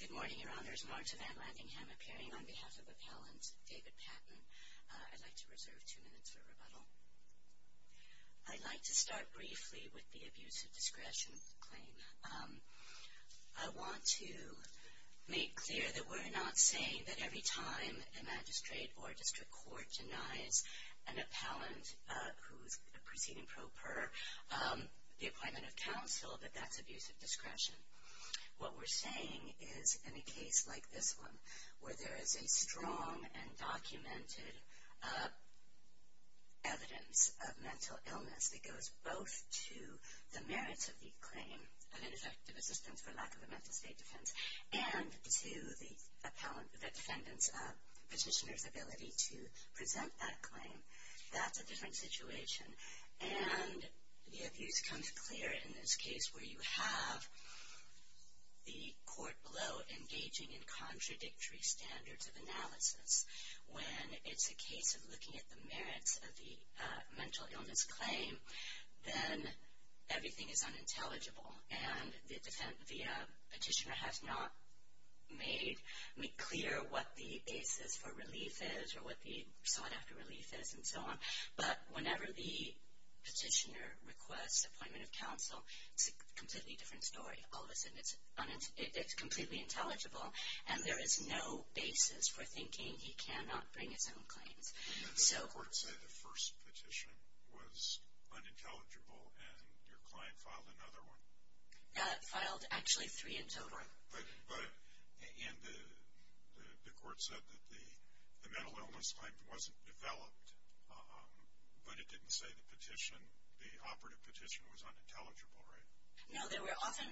Good morning, Your Honors. Marta VanLandingham appearing on behalf of Appellant David Patton. I'd like to reserve two minutes for rebuttal. I'd like to start briefly with the abuse of discretion claim. I want to make clear that we're not saying that every time a magistrate or a district court denies an appellant who's proceeding pro per the appointment of counsel that that's abuse of discretion. What we're saying is in a case like this one where there is a strong and documented evidence of mental illness that goes both to the merits of the claim of ineffective assistance for lack of a mental state defense and to the defendant's petitioner's ability to present that claim, that's a different situation. And the abuse comes clear in this case where you have the court below engaging in contradictory standards of analysis. When it's a case of looking at the merits of the mental illness claim, then everything is unintelligible. And the petitioner has not made clear what the basis for relief is or what the sought-after relief is and so on. But whenever the petitioner requests appointment of counsel, it's a completely different story. All of a sudden, it's completely intelligible, and there is no basis for thinking he cannot bring his own claims. And the court said the first petition was unintelligible, and your client filed another one? Filed actually three in total. And the court said that the mental illness claim wasn't developed, but it didn't say the petition, the operative petition, was unintelligible, right? No, there were often,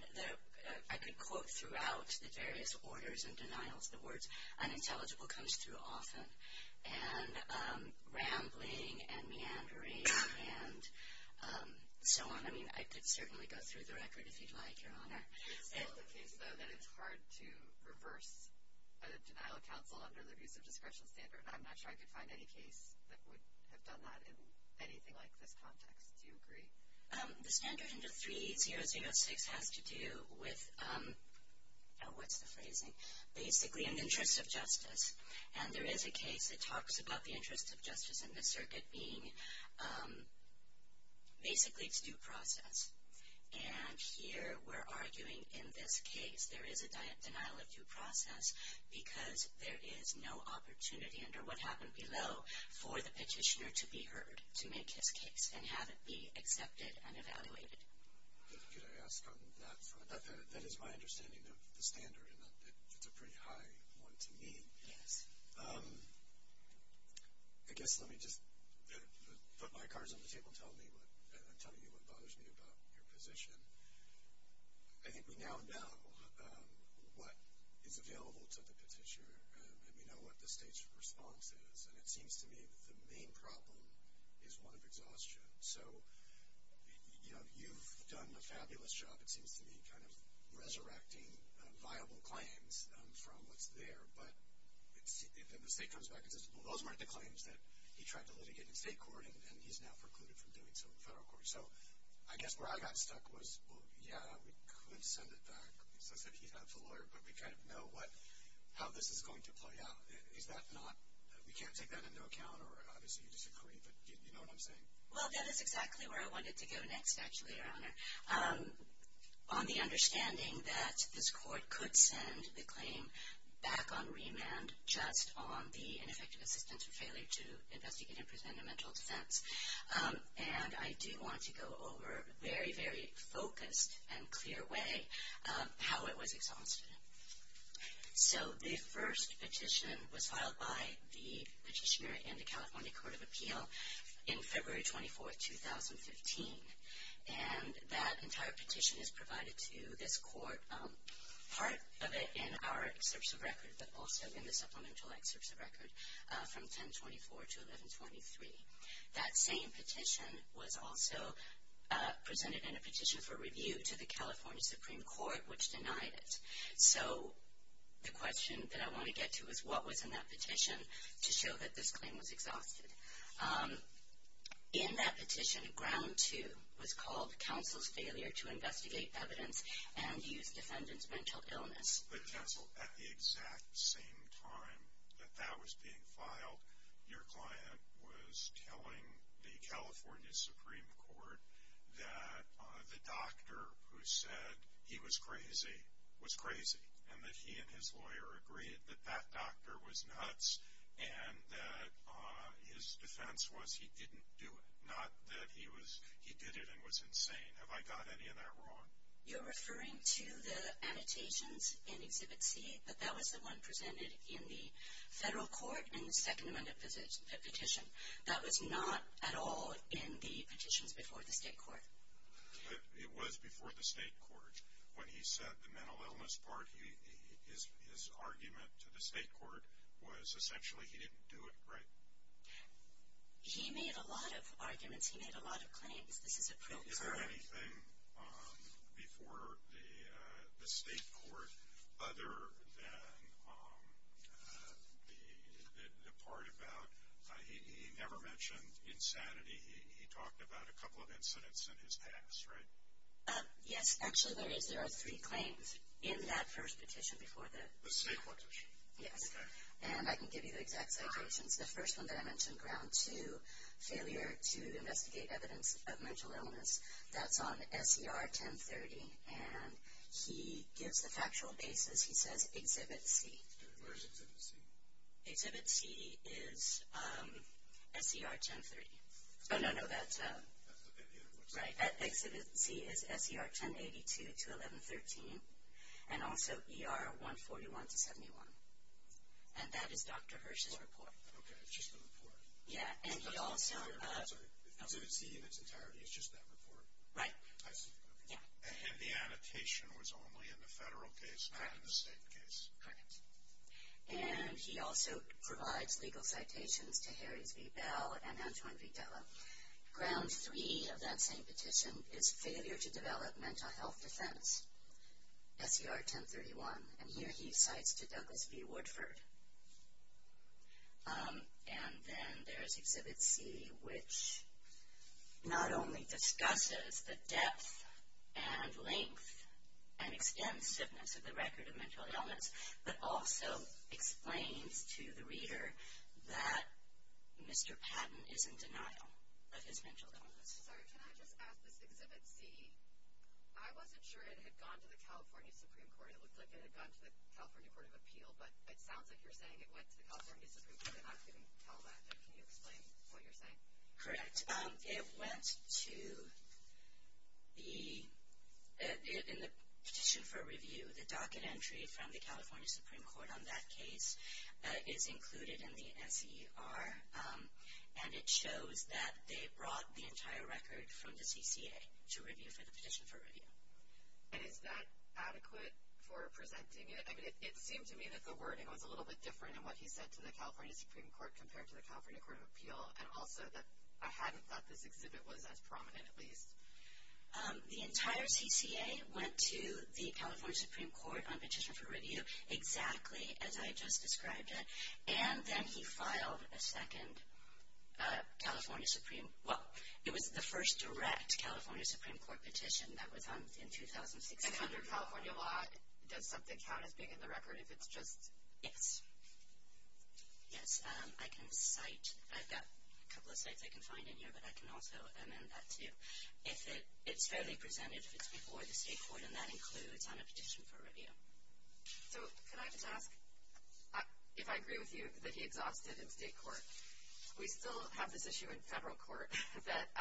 I could quote throughout the various orders and denials, the words unintelligible comes through often, and rambling and meandering and so on. I mean, I could certainly go through the record if you'd like, Your Honor. It's still the case, though, that it's hard to reverse a denial of counsel under the abuse of discretion standard. I'm not sure I could find any case that would have done that in anything like this context. Do you agree? The standard under 3006 has to do with, what's the phrasing, basically an interest of justice. And there is a case that talks about the interest of justice in the circuit being basically it's due process. And here we're arguing in this case there is a denial of due process because there is no opportunity under what happened below for the petitioner to be heard to make his case and have it be accepted and evaluated. Could I ask on that front? That is my understanding of the standard, and it's a pretty high one to me. Yes. I guess let me just put my cards on the table and tell you what bothers me about your position. I think we now know what is available to the petitioner, and we know what the state's response is. And it seems to me that the main problem is one of exhaustion. So, you know, you've done a fabulous job, it seems to me, kind of resurrecting viable claims from what's there. But then the state comes back and says, well, those weren't the claims that he tried to litigate in state court, and he's now precluded from doing so in federal court. So I guess where I got stuck was, well, yeah, we could send it back since he's a lawyer, but we kind of know how this is going to play out. Is that not we can't take that into account, or obviously you disagree, but you know what I'm saying? Well, that is exactly where I wanted to go next, actually, Your Honor, on the understanding that this court could send the claim back on remand just on the ineffective assistance or failure to investigate and present a mental defense. And I do want to go over in a very, very focused and clear way how it was exhausted. So the first petition was filed by the petitioner in the California Court of Appeal in February 24th, 2015. And that entire petition is provided to this court, part of it in our excerpts of record, but also in the supplemental excerpts of record from 1024 to 1123. That same petition was also presented in a petition for review to the California Supreme Court, which denied it. So the question that I want to get to is what was in that petition to show that this claim was exhausted. In that petition, ground two was called Counsel's Failure to Investigate Evidence and Use Defendant's Mental Illness. But, Counsel, at the exact same time that that was being filed, your client was telling the California Supreme Court that the doctor who said he was crazy was crazy and that he and his lawyer agreed that that doctor was nuts and that his defense was he didn't do it, not that he did it and was insane. Have I got any of that wrong? You're referring to the annotations in Exhibit C, but that was the one presented in the federal court in the second amendment petition. That was not at all in the petitions before the state court. It was before the state court. When he said the mental illness part, his argument to the state court was essentially he didn't do it right. He made a lot of arguments. He made a lot of claims. Is there anything before the state court other than the part about he never mentioned insanity. He talked about a couple of incidents in his past, right? Yes. Actually, there is. There are three claims in that first petition before that. The state court petition? Yes. Okay. And I can give you the exact citations. The first one that I mentioned, Ground 2, Failure to Investigate Evidence of Mental Illness. That's on SER 1030. And he gives the factual basis. He says Exhibit C. Where's Exhibit C? Exhibit C is SER 1030. Oh, no, no. That's right. Exhibit C is SER 1082 to 1113 and also ER 141 to 71. And that is Dr. Hirsch's report. Okay. It's just the report. Yeah. Exhibit C in its entirety is just that report. Right. I see. And the annotation was only in the federal case, not in the state case. Correct. And he also provides legal citations to Harris v. Bell and Antoine v. Della. Ground 3 of that same petition is Failure to Develop Mental Health Defense, SER 1031. And here he cites to Douglas v. Woodford. And then there's Exhibit C, which not only discusses the depth and length and extensiveness of the record of mental illness, but also explains to the reader that Mr. Patton is in denial of his mental illness. Sorry, can I just ask this? Exhibit C, I wasn't sure it had gone to the California Supreme Court. It looked like it had gone to the California Court of Appeal, but it sounds like you're saying it went to the California Supreme Court, and I'm not getting all that. Can you explain what you're saying? Correct. It went to the petition for review. The docket entry from the California Supreme Court on that case is included in the SER, and it shows that they brought the entire record from the CCA to review for the petition for review. And is that adequate for presenting it? I mean, it seemed to me that the wording was a little bit different in what he said to the California Supreme Court compared to the California Court of Appeal, and also that I hadn't thought this exhibit was as prominent, at least. The entire CCA went to the California Supreme Court on petition for review, exactly as I just described it, and then he filed a second California Supreme – well, it was the first direct California Supreme Court petition that was on in 2016. And under California law, does something count as being in the record if it's just – Yes. Yes, I can cite – I've got a couple of cites I can find in here, but I can also amend that, too, if it's fairly presented, if it's before the state court, and that includes on a petition for review. So can I just ask, if I agree with you that he exhausted in state court, we still have this issue in federal court that –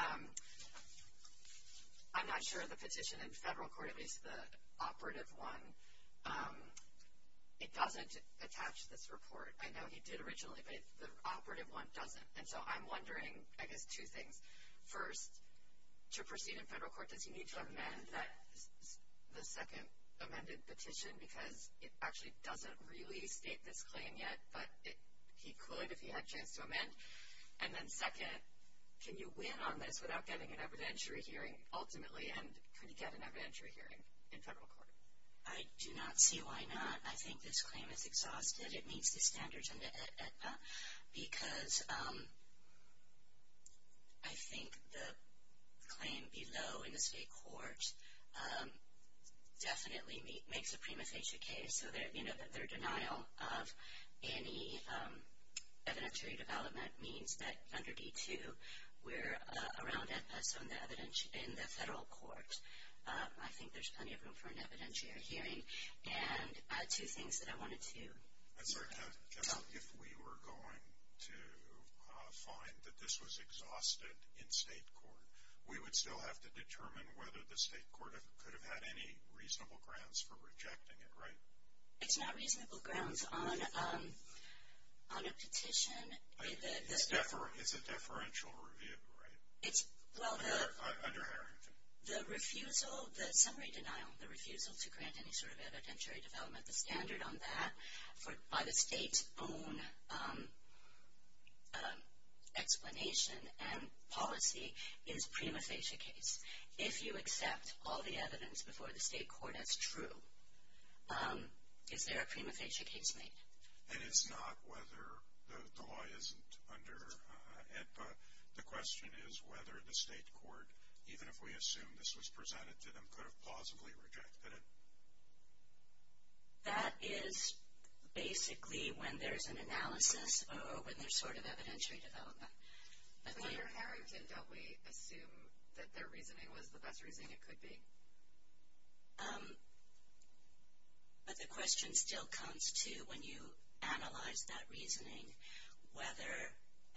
I'm not sure the petition in federal court, at least the operative one, it doesn't attach to this report. I know he did originally, but the operative one doesn't. And so I'm wondering, I guess, two things. First, to proceed in federal court, does he need to amend the second amended petition? Because it actually doesn't really state this claim yet, but he could if he had a chance to amend. And then second, can you win on this without getting an evidentiary hearing ultimately, and can you get an evidentiary hearing in federal court? I do not see why not. I think this claim is exhausted. It meets the standards under AEDPA because I think the claim below in the state court definitely makes a prima facie case. So their denial of any evidentiary development means that under D2, we're around AEDPA, so in the federal court, I think there's plenty of room for an evidentiary hearing. And two things that I wanted to know. I'm sorry, if we were going to find that this was exhausted in state court, we would still have to determine whether the state court could have had any reasonable grounds for rejecting it, right? It's not reasonable grounds on a petition. It's a deferential review, right? Under Harrington. The refusal, the summary denial, the refusal to grant any sort of evidentiary development, the standard on that by the state's own explanation and policy is prima facie case. If you accept all the evidence before the state court as true, is there a prima facie case made? And it's not whether the law isn't under AEDPA. The question is whether the state court, even if we assume this was presented to them, could have plausibly rejected it. That is basically when there's an analysis or when there's sort of evidentiary development. But under Harrington, don't we assume that their reasoning was the best reasoning it could be? But the question still comes to when you analyze that reasoning, whether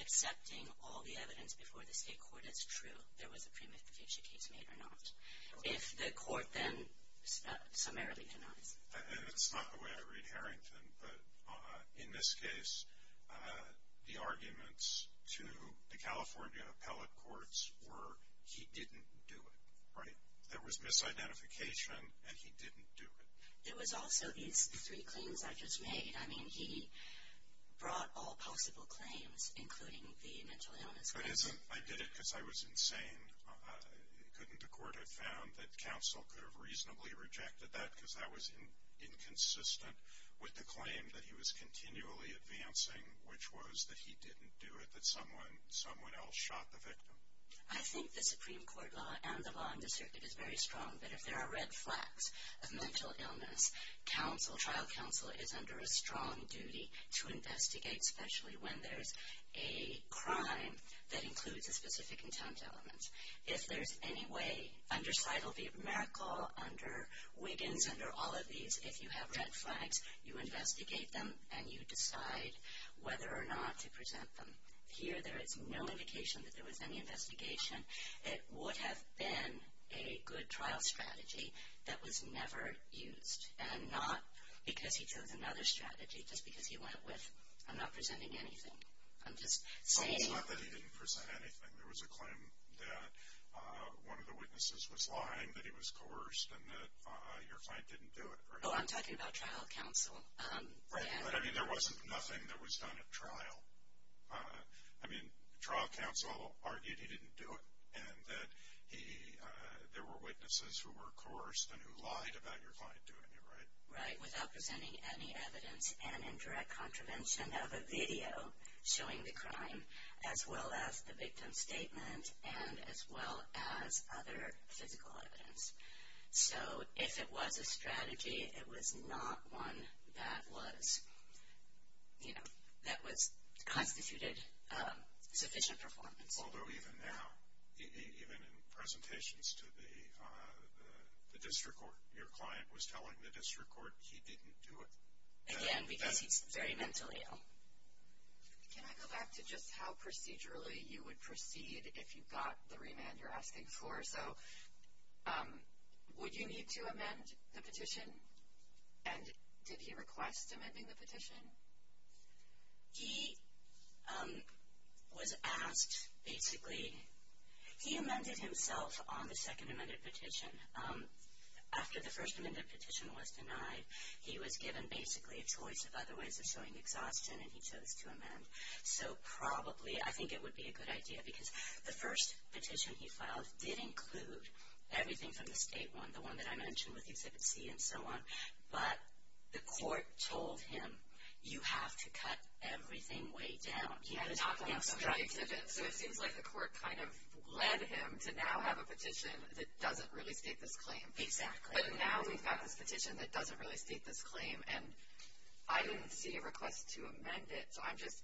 accepting all the evidence before the state court as true, there was a prima facie case made or not. If the court then summarily denies it. And it's not the way I read Harrington, but in this case, the arguments to the California appellate courts were he didn't do it, right? There was misidentification and he didn't do it. There was also these three claims I just made. I mean, he brought all possible claims, including the mental illness case. I did it because I was insane. Couldn't the court have found that counsel could have reasonably rejected that because that was inconsistent with the claim that he was continually advancing, which was that he didn't do it, that someone else shot the victim? I think the Supreme Court law and the law in this circuit is very strong, that if there are red flags of mental illness, trial counsel is under a strong duty to investigate, especially when there's a crime that includes a specific intent element. If there's any way under Seidel v. Merkel, under Wiggins, under all of these, if you have red flags, you investigate them and you decide whether or not to present them. Here, there is no indication that there was any investigation. It would have been a good trial strategy that was never used, and not because he chose another strategy just because he went with, I'm not presenting anything. I'm just saying. So it's not that he didn't present anything. There was a claim that one of the witnesses was lying, that he was coerced, and that your client didn't do it, right? Oh, I'm talking about trial counsel. But, I mean, there wasn't nothing that was done at trial. I mean, trial counsel argued he didn't do it, and that there were witnesses who were coerced and who lied about your client doing it, right? Right, without presenting any evidence, and in direct contravention of a video showing the crime, as well as the victim's statement, and as well as other physical evidence. So if it was a strategy, it was not one that was, you know, that was constituted sufficient performance. Although even now, even in presentations to the district court, your client was telling the district court he didn't do it. Again, because he's very mentally ill. Can I go back to just how procedurally you would proceed if you got the remand you're asking for? So would you need to amend the petition? And did he request amending the petition? He was asked, basically, he amended himself on the second amended petition. After the first amended petition was denied, he was given basically a choice of other ways of showing exhaustion, and he chose to amend. So probably, I think it would be a good idea, because the first petition he filed did include everything from the state one, the one that I mentioned with Exhibit C and so on, but the court told him you have to cut everything way down. He was instructed. So it seems like the court kind of led him to now have a petition that doesn't really state this claim. Exactly. But now we've got this petition that doesn't really state this claim, and I didn't see a request to amend it. So I'm just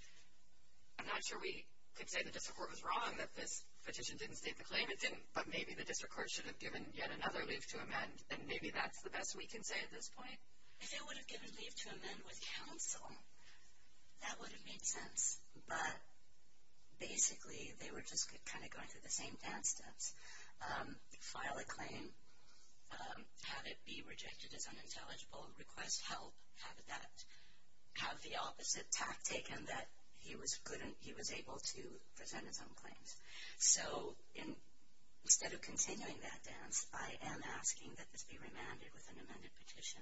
not sure we could say the district court was wrong that this petition didn't state the claim. It didn't. But maybe the district court should have given yet another leave to amend, and maybe that's the best we can say at this point. If it would have given leave to amend with counsel, that would have made sense. But basically, they were just kind of going through the same dance steps. File a claim. Have it be rejected as unintelligible. Request help. Have the opposite tact taken that he was able to present his own claims. So instead of continuing that dance, I am asking that this be remanded with an amended petition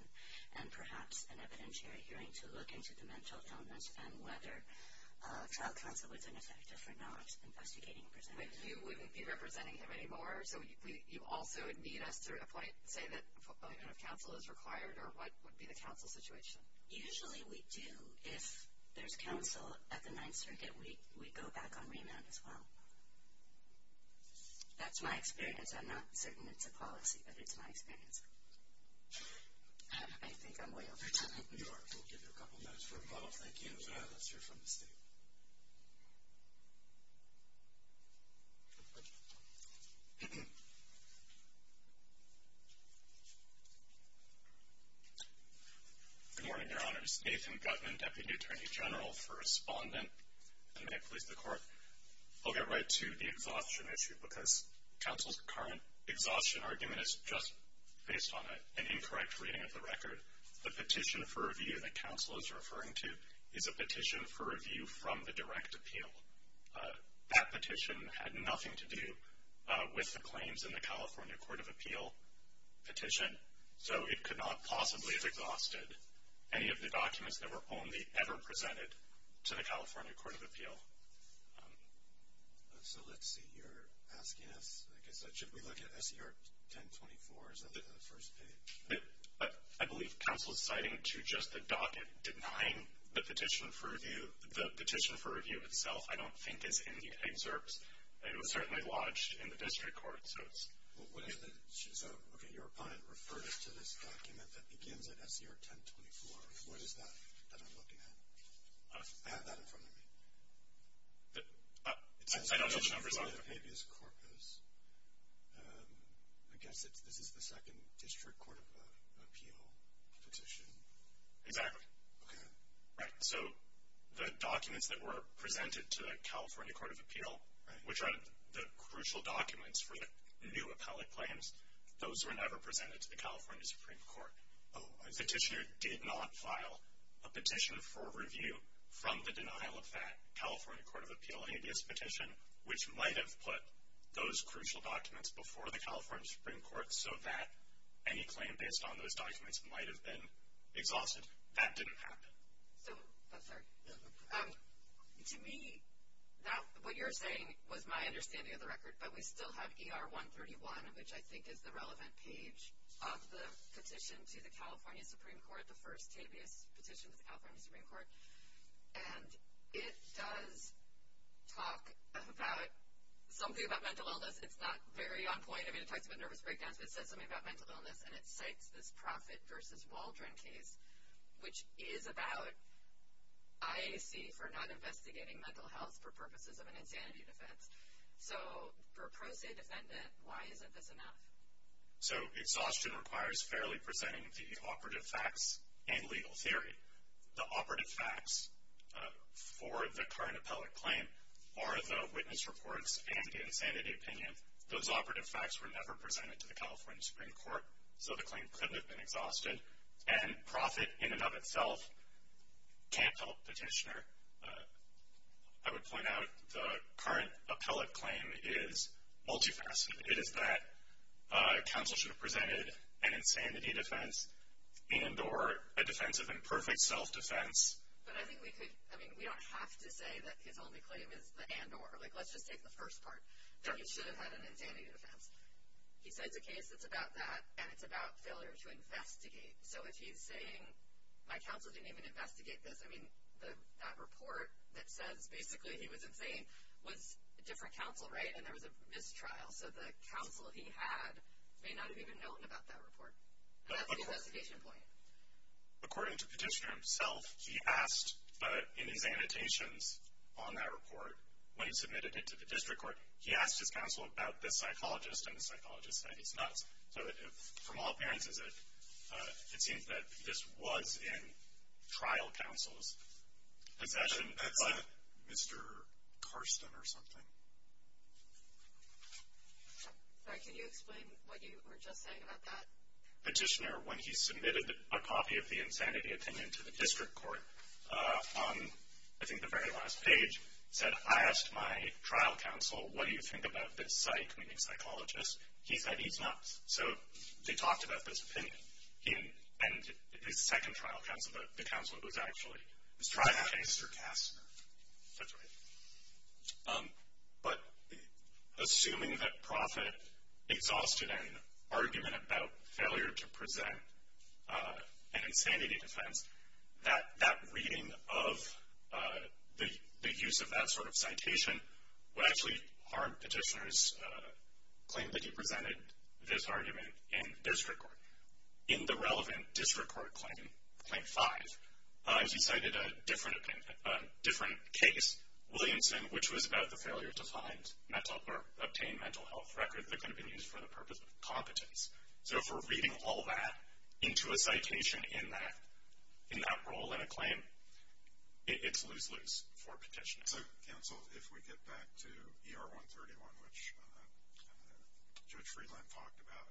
and perhaps an evidentiary hearing to look into the mental illness and whether trial counsel was ineffective or not investigating and presenting. But you wouldn't be representing him anymore, so you also would need us to say if counsel is required or what would be the counsel situation. Usually we do. If there's counsel at the Ninth Circuit, we go back on remand as well. That's my experience. I'm not certain it's a policy, but it's my experience. I think I'm loyal for time. You are. Thank you. Let's hear from the State. Good morning, Your Honors. Nathan Gutmann, Deputy Attorney General for Respondent. And may it please the Court, I'll get right to the exhaustion issue because counsel's current exhaustion argument is just based on an incorrect reading of the record. The petition for review that counsel is referring to is a petition for review from the direct appeal. That petition had nothing to do with the claims in the California Court of Appeal petition, so it could not possibly have exhausted any of the documents that were only ever presented to the California Court of Appeal. So let's see. You're asking us, I guess, should we look at S.E.R. 1024? Is that the first page? I believe counsel is citing to just the docket denying the petition for review. The petition for review itself, I don't think, is in the excerpts. It was certainly lodged in the district court. So, okay, your opponent referred us to this document that begins at S.E.R. 1024. What is that that I'm looking at? I have that in front of me. I don't know the numbers off of it. California habeas corpus. I guess this is the second district court of appeal petition. Exactly. Okay. Right, so the documents that were presented to the California Court of Appeal, which are the crucial documents for the new appellate claims, those were never presented to the California Supreme Court. Oh, I see. The petitioner did not file a petition for review from the denial of that California Court of Appeal habeas petition, which might have put those crucial documents before the California Supreme Court so that any claim based on those documents might have been exhausted. That didn't happen. So, I'm sorry. To me, what you're saying was my understanding of the record, but we still have E.R. 131, which I think is the relevant page of the petition to the California Supreme Court, the first habeas petition to the California Supreme Court. And it does talk about something about mental illness. It's not very on point. I mean, it talks about nervous breakdowns, but it says something about mental illness, and it cites this Proffitt v. Waldron case, which is about IAC for not investigating mental health for purposes of an insanity defense. So, for a pro se defendant, why isn't this enough? So, exhaustion requires fairly presenting the operative facts and legal theory. The operative facts for the current appellate claim are the witness reports and the insanity opinion. Those operative facts were never presented to the California Supreme Court, so the claim could have been exhausted. And Proffitt, in and of itself, can't help petitioner. I would point out the current appellate claim is multifaceted. It is that counsel should have presented an insanity defense and or a defense of imperfect self-defense. But I think we could, I mean, we don't have to say that his only claim is the and or. Like, let's just take the first part, that he should have had an insanity defense. He cites a case that's about that, and it's about failure to investigate. So, if he's saying my counsel didn't even investigate this, I mean, that report that says basically he was insane was a different counsel, right? And there was a mistrial, so the counsel he had may not have even known about that report. That's the investigation point. According to the petitioner himself, he asked in his annotations on that report, when he submitted it to the district court, he asked his counsel about this psychologist, and the psychologist said he's nuts. So, from all appearances, it seems that this was in trial counsel's possession. That's Mr. Karsten or something. Sorry, can you explain what you were just saying about that? Petitioner, when he submitted a copy of the insanity opinion to the district court, on I think the very last page, said, I asked my trial counsel, what do you think about this psych, meaning psychologist. He said he's nuts. So, they talked about this opinion. And his second trial counsel, the counsel that was actually in this trial case, Mr. Kasten. That's right. But assuming that Profitt exhausted an argument about failure to present an insanity defense, that reading of the use of that sort of citation would actually harm petitioner's claim that he presented this argument in district court. In the relevant district court claim, claim five, he cited a different case, Williamson, which was about the failure to obtain mental health records that could have been used for the purpose of competence. So, if we're reading all that into a citation in that role in a claim, it's lose-lose for petitioner. So, counsel, if we get back to ER 131, which Judge Friedland talked about,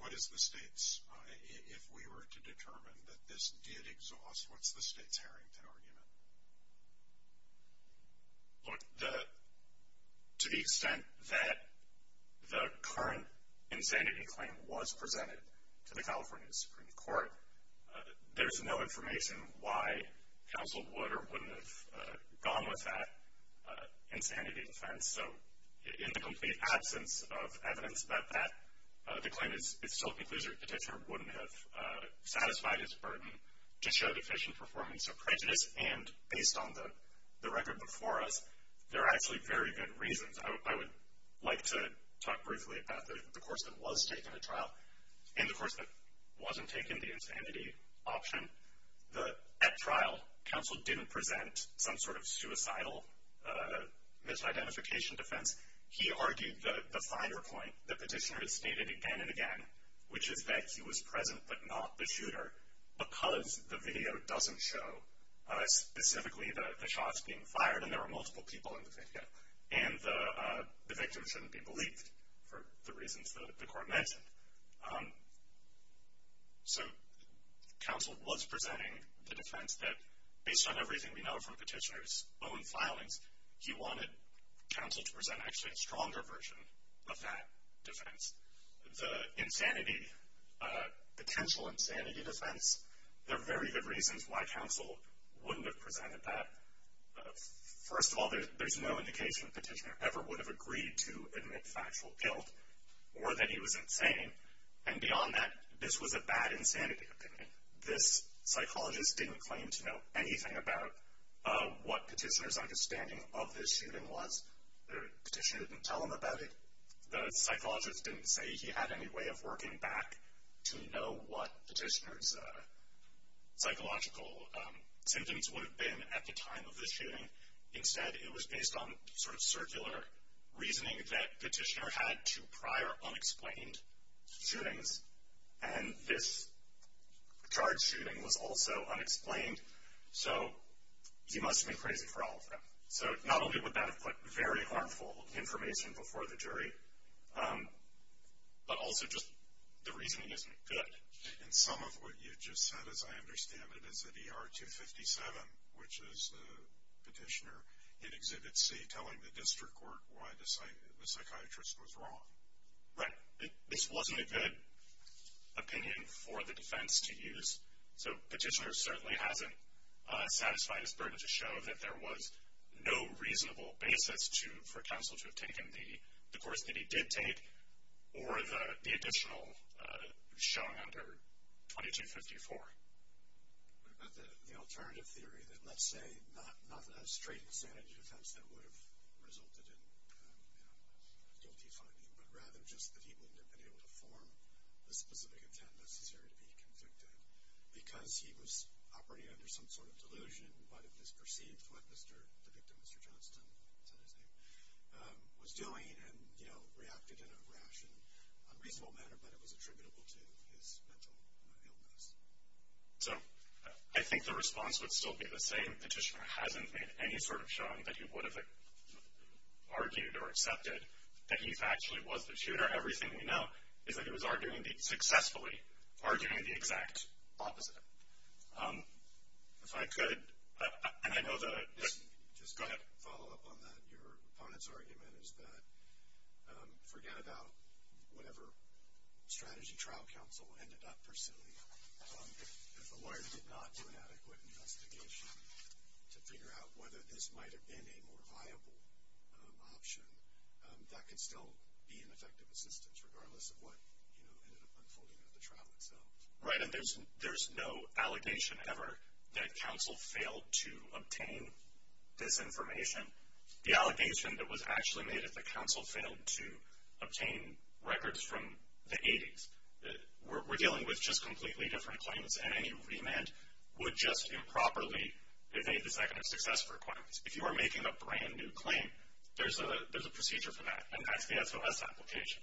what is the state's, if we were to determine that this did exhaust, what's the state's herrington argument? Look, to the extent that the current insanity claim was presented to the California Supreme Court, there's no information why counsel would or wouldn't have gone with that insanity defense. So, in the complete absence of evidence that that, the claim is still conclusive, petitioner wouldn't have satisfied his burden to show deficient performance of prejudice. And based on the record before us, there are actually very good reasons. I would like to talk briefly about the course that was taken at trial. In the course that wasn't taken, the insanity option, at trial, counsel didn't present some sort of suicidal misidentification defense. He argued the finer point that petitioner has stated again and again, which is that he was present but not the shooter because the video doesn't show specifically the shots being fired, and there were multiple people in the video. And the victim shouldn't be believed for the reasons that the court mentioned. So, counsel was presenting the defense that, based on everything we know from petitioner's own filings, he wanted counsel to present actually a stronger version of that defense. The insanity, potential insanity defense, there are very good reasons why counsel wouldn't have presented that. First of all, there's no indication petitioner ever would have agreed to admit factual guilt or that he was insane. And beyond that, this was a bad insanity opinion. This psychologist didn't claim to know anything about what petitioner's understanding of this shooting was. The petitioner didn't tell him about it. The psychologist didn't say he had any way of working back to know what petitioner's psychological symptoms would have been at the time of the shooting. Instead, it was based on sort of circular reasoning that petitioner had to prior unexplained shootings, and this charged shooting was also unexplained, so he must have been crazy for all of them. So, not only would that have put very harmful information before the jury, but also just the reasoning isn't good. And some of what you just said, as I understand it, is that ER 257, which is the petitioner, it exhibits a telling the district court why the psychiatrist was wrong. Right. This wasn't a good opinion for the defense to use, so petitioner certainly hasn't satisfied his burden to show that there was no reasonable basis for counsel to have taken the course that he did take or the additional showing under 2254. What about the alternative theory that let's say not that straight insanity defense that would have resulted in a guilty finding, but rather just that he wouldn't have been able to form the specific intent necessary to be convicted because he was operating under some sort of delusion, but it was perceived what the victim, Mr. Johnston, that's not his name, was doing and reacted in a rash and unreasonable manner, but it was attributable to his mental illness. So, I think the response would still be the same. Petitioner hasn't made any sort of showing that he would have argued or accepted that he actually was the tutor. Everything we know is that he was arguing successfully, arguing the exact opposite. If I could, and I know the- Just go ahead and follow up on that. Your opponent's argument is that forget about whatever strategy trial counsel ended up pursuing. If a lawyer did not do an adequate investigation to figure out whether this might have been a more viable option, that could still be an effective assistance regardless of what ended up unfolding at the trial itself. Right, and there's no allegation ever that counsel failed to obtain this information. The allegation that was actually made is that counsel failed to obtain records from the 80s. We're dealing with just completely different claims, and any remand would just improperly evade the second of success requirements. If you are making a brand-new claim, there's a procedure for that, and that's the SOS application.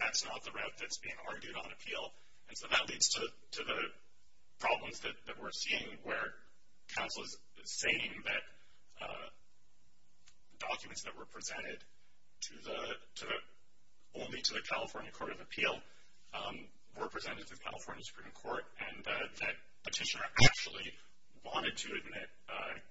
That's not the route that's being argued on appeal, and so that leads to the problems that we're seeing where counsel is saying that documents that were presented only to the California Court of Appeal were presented to the California Supreme Court, and that petitioner actually wanted to admit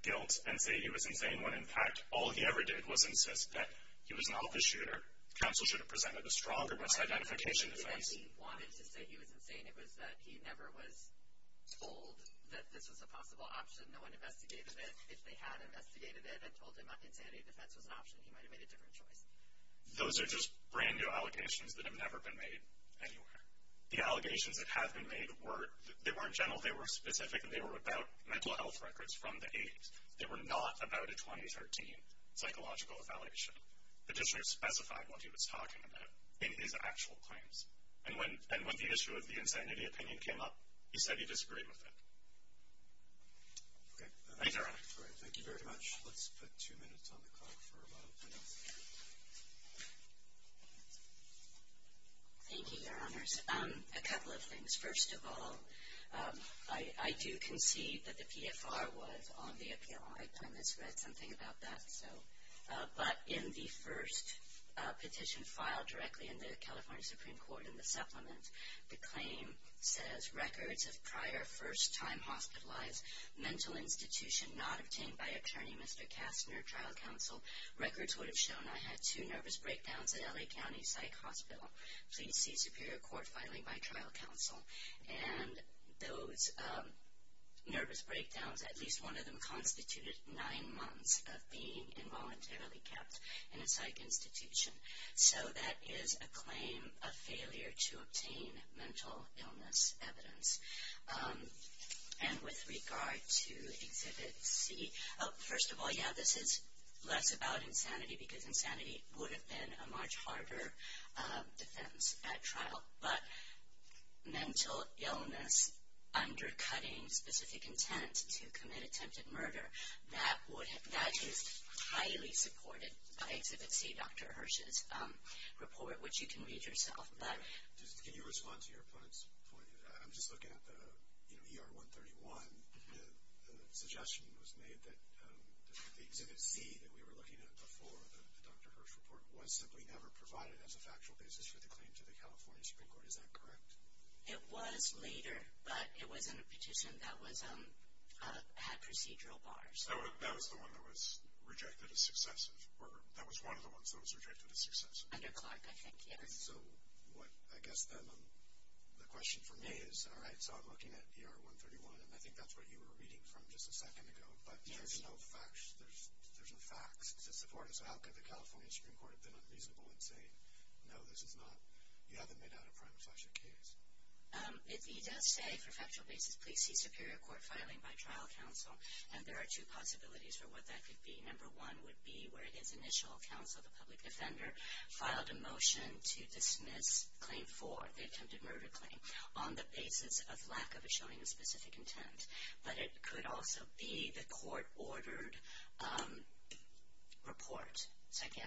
guilt and say he was insane when, in fact, all he ever did was insist that he was an office shooter. Counsel should have presented a stronger misidentification defense. He wanted to say he was insane. It was that he never was told that this was a possible option. No one investigated it. If they had investigated it and told him insanity defense was an option, he might have made a different choice. Those are just brand-new allegations that have never been made anywhere. The allegations that have been made, they weren't general. They were specific, and they were about mental health records from the 80s. They were not about a 2013 psychological evaluation. The petitioner specified what he was talking about in his actual claims, and when the issue of the insanity opinion came up, he said he disagreed with it. Okay. Thanks, Your Honor. All right. Thank you very much. Let's put two minutes on the clock for our final panel. Thank you, Your Honors. A couple of things. First of all, I do concede that the PFR was on the appeal. I've read something about that. But in the first petition filed directly in the California Supreme Court in the supplement, the claim says, Records of prior first-time hospitalized mental institution not obtained by attorney Mr. Kastner, trial counsel. Records would have shown I had two nervous breakdowns at L.A. County Psych Hospital. Please see superior court filing by trial counsel. And those nervous breakdowns, at least one of them, constituted nine months of being involuntarily kept in a psych institution. So that is a claim of failure to obtain mental illness evidence. And with regard to Exhibit C, first of all, yeah, this is less about insanity, because insanity would have been a much harder defense at trial. But mental illness undercutting specific intent to commit attempted murder, that is highly supported by Exhibit C, Dr. Hirsch's report, which you can read yourself. Can you respond to your opponent's point? I'm just looking at the ER-131. The suggestion was made that the Exhibit C that we were looking at before the Dr. Hirsch report was simply never provided as a factual basis for the claim to the California Supreme Court. Is that correct? It was later, but it was in a petition that had procedural bars. That was the one that was rejected as successive, or that was one of the ones that was rejected as successive? Under Clark, I think, yes. So I guess then the question for me is, all right, so I'm looking at ER-131, and I think that's what you were reading from just a second ago, but there's no facts to support it. So how could the California Supreme Court have been unreasonable and say, no, this is not, you haven't made out a prime slasher case? If he does say for factual basis, please see superior court filing by trial counsel, and there are two possibilities for what that could be. Number one would be where his initial counsel, the public defender, filed a motion to dismiss Claim 4, the attempted murder claim, on the basis of lack of a showing of specific intent. But it could also be the court-ordered report.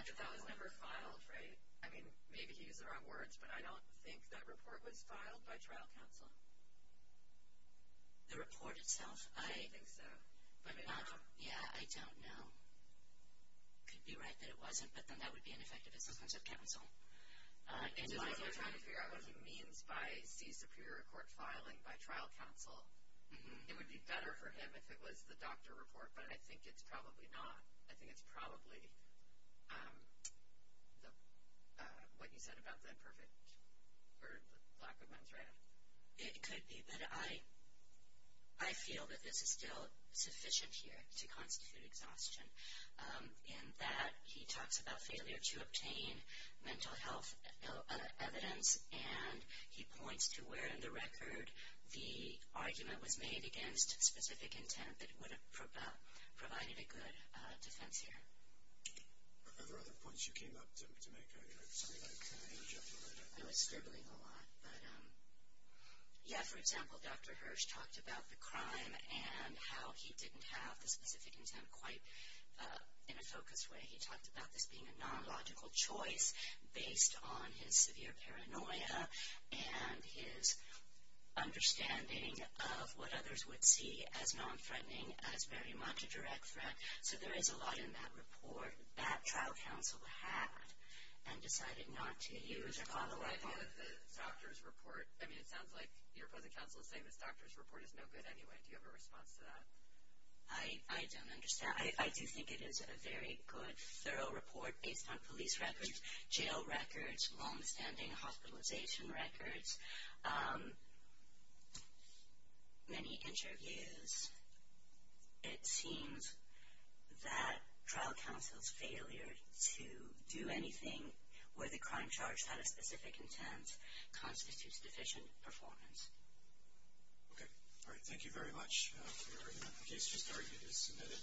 But that was never filed, right? I mean, maybe he used the wrong words, but I don't think that report was filed by trial counsel. The report itself? I don't think so. Yeah, I don't know. It could be right that it wasn't, but then that would be ineffective as successive counsel. I'm trying to figure out what he means by see superior court filing by trial counsel. It would be better for him if it was the doctor report, but I think it's probably not. What you said about the lack of a thread. It could be, but I feel that this is still sufficient here to constitute exhaustion, in that he talks about failure to obtain mental health evidence, and he points to where in the record the argument was made against specific intent that would have provided a good defense here. Are there other points you came up to make? I was stumbling a lot. Yeah, for example, Dr. Hirsch talked about the crime and how he didn't have the specific intent quite in a focused way. He talked about this being a non-logical choice based on his severe paranoia and his understanding of what others would see as non-threatening as very much a direct threat. So there is a lot in that report that trial counsel had and decided not to use. The doctor's report. I mean, it sounds like your opposing counsel is saying this doctor's report is no good anyway. Do you have a response to that? I don't understand. I do think it is a very good, thorough report based on police records, jail records, long-standing hospitalization records, many interviews. It seems that trial counsel's failure to do anything where the crime charge had a specific intent constitutes deficient performance. Okay. All right. Thank you very much for your argument. The case just argued is submitted.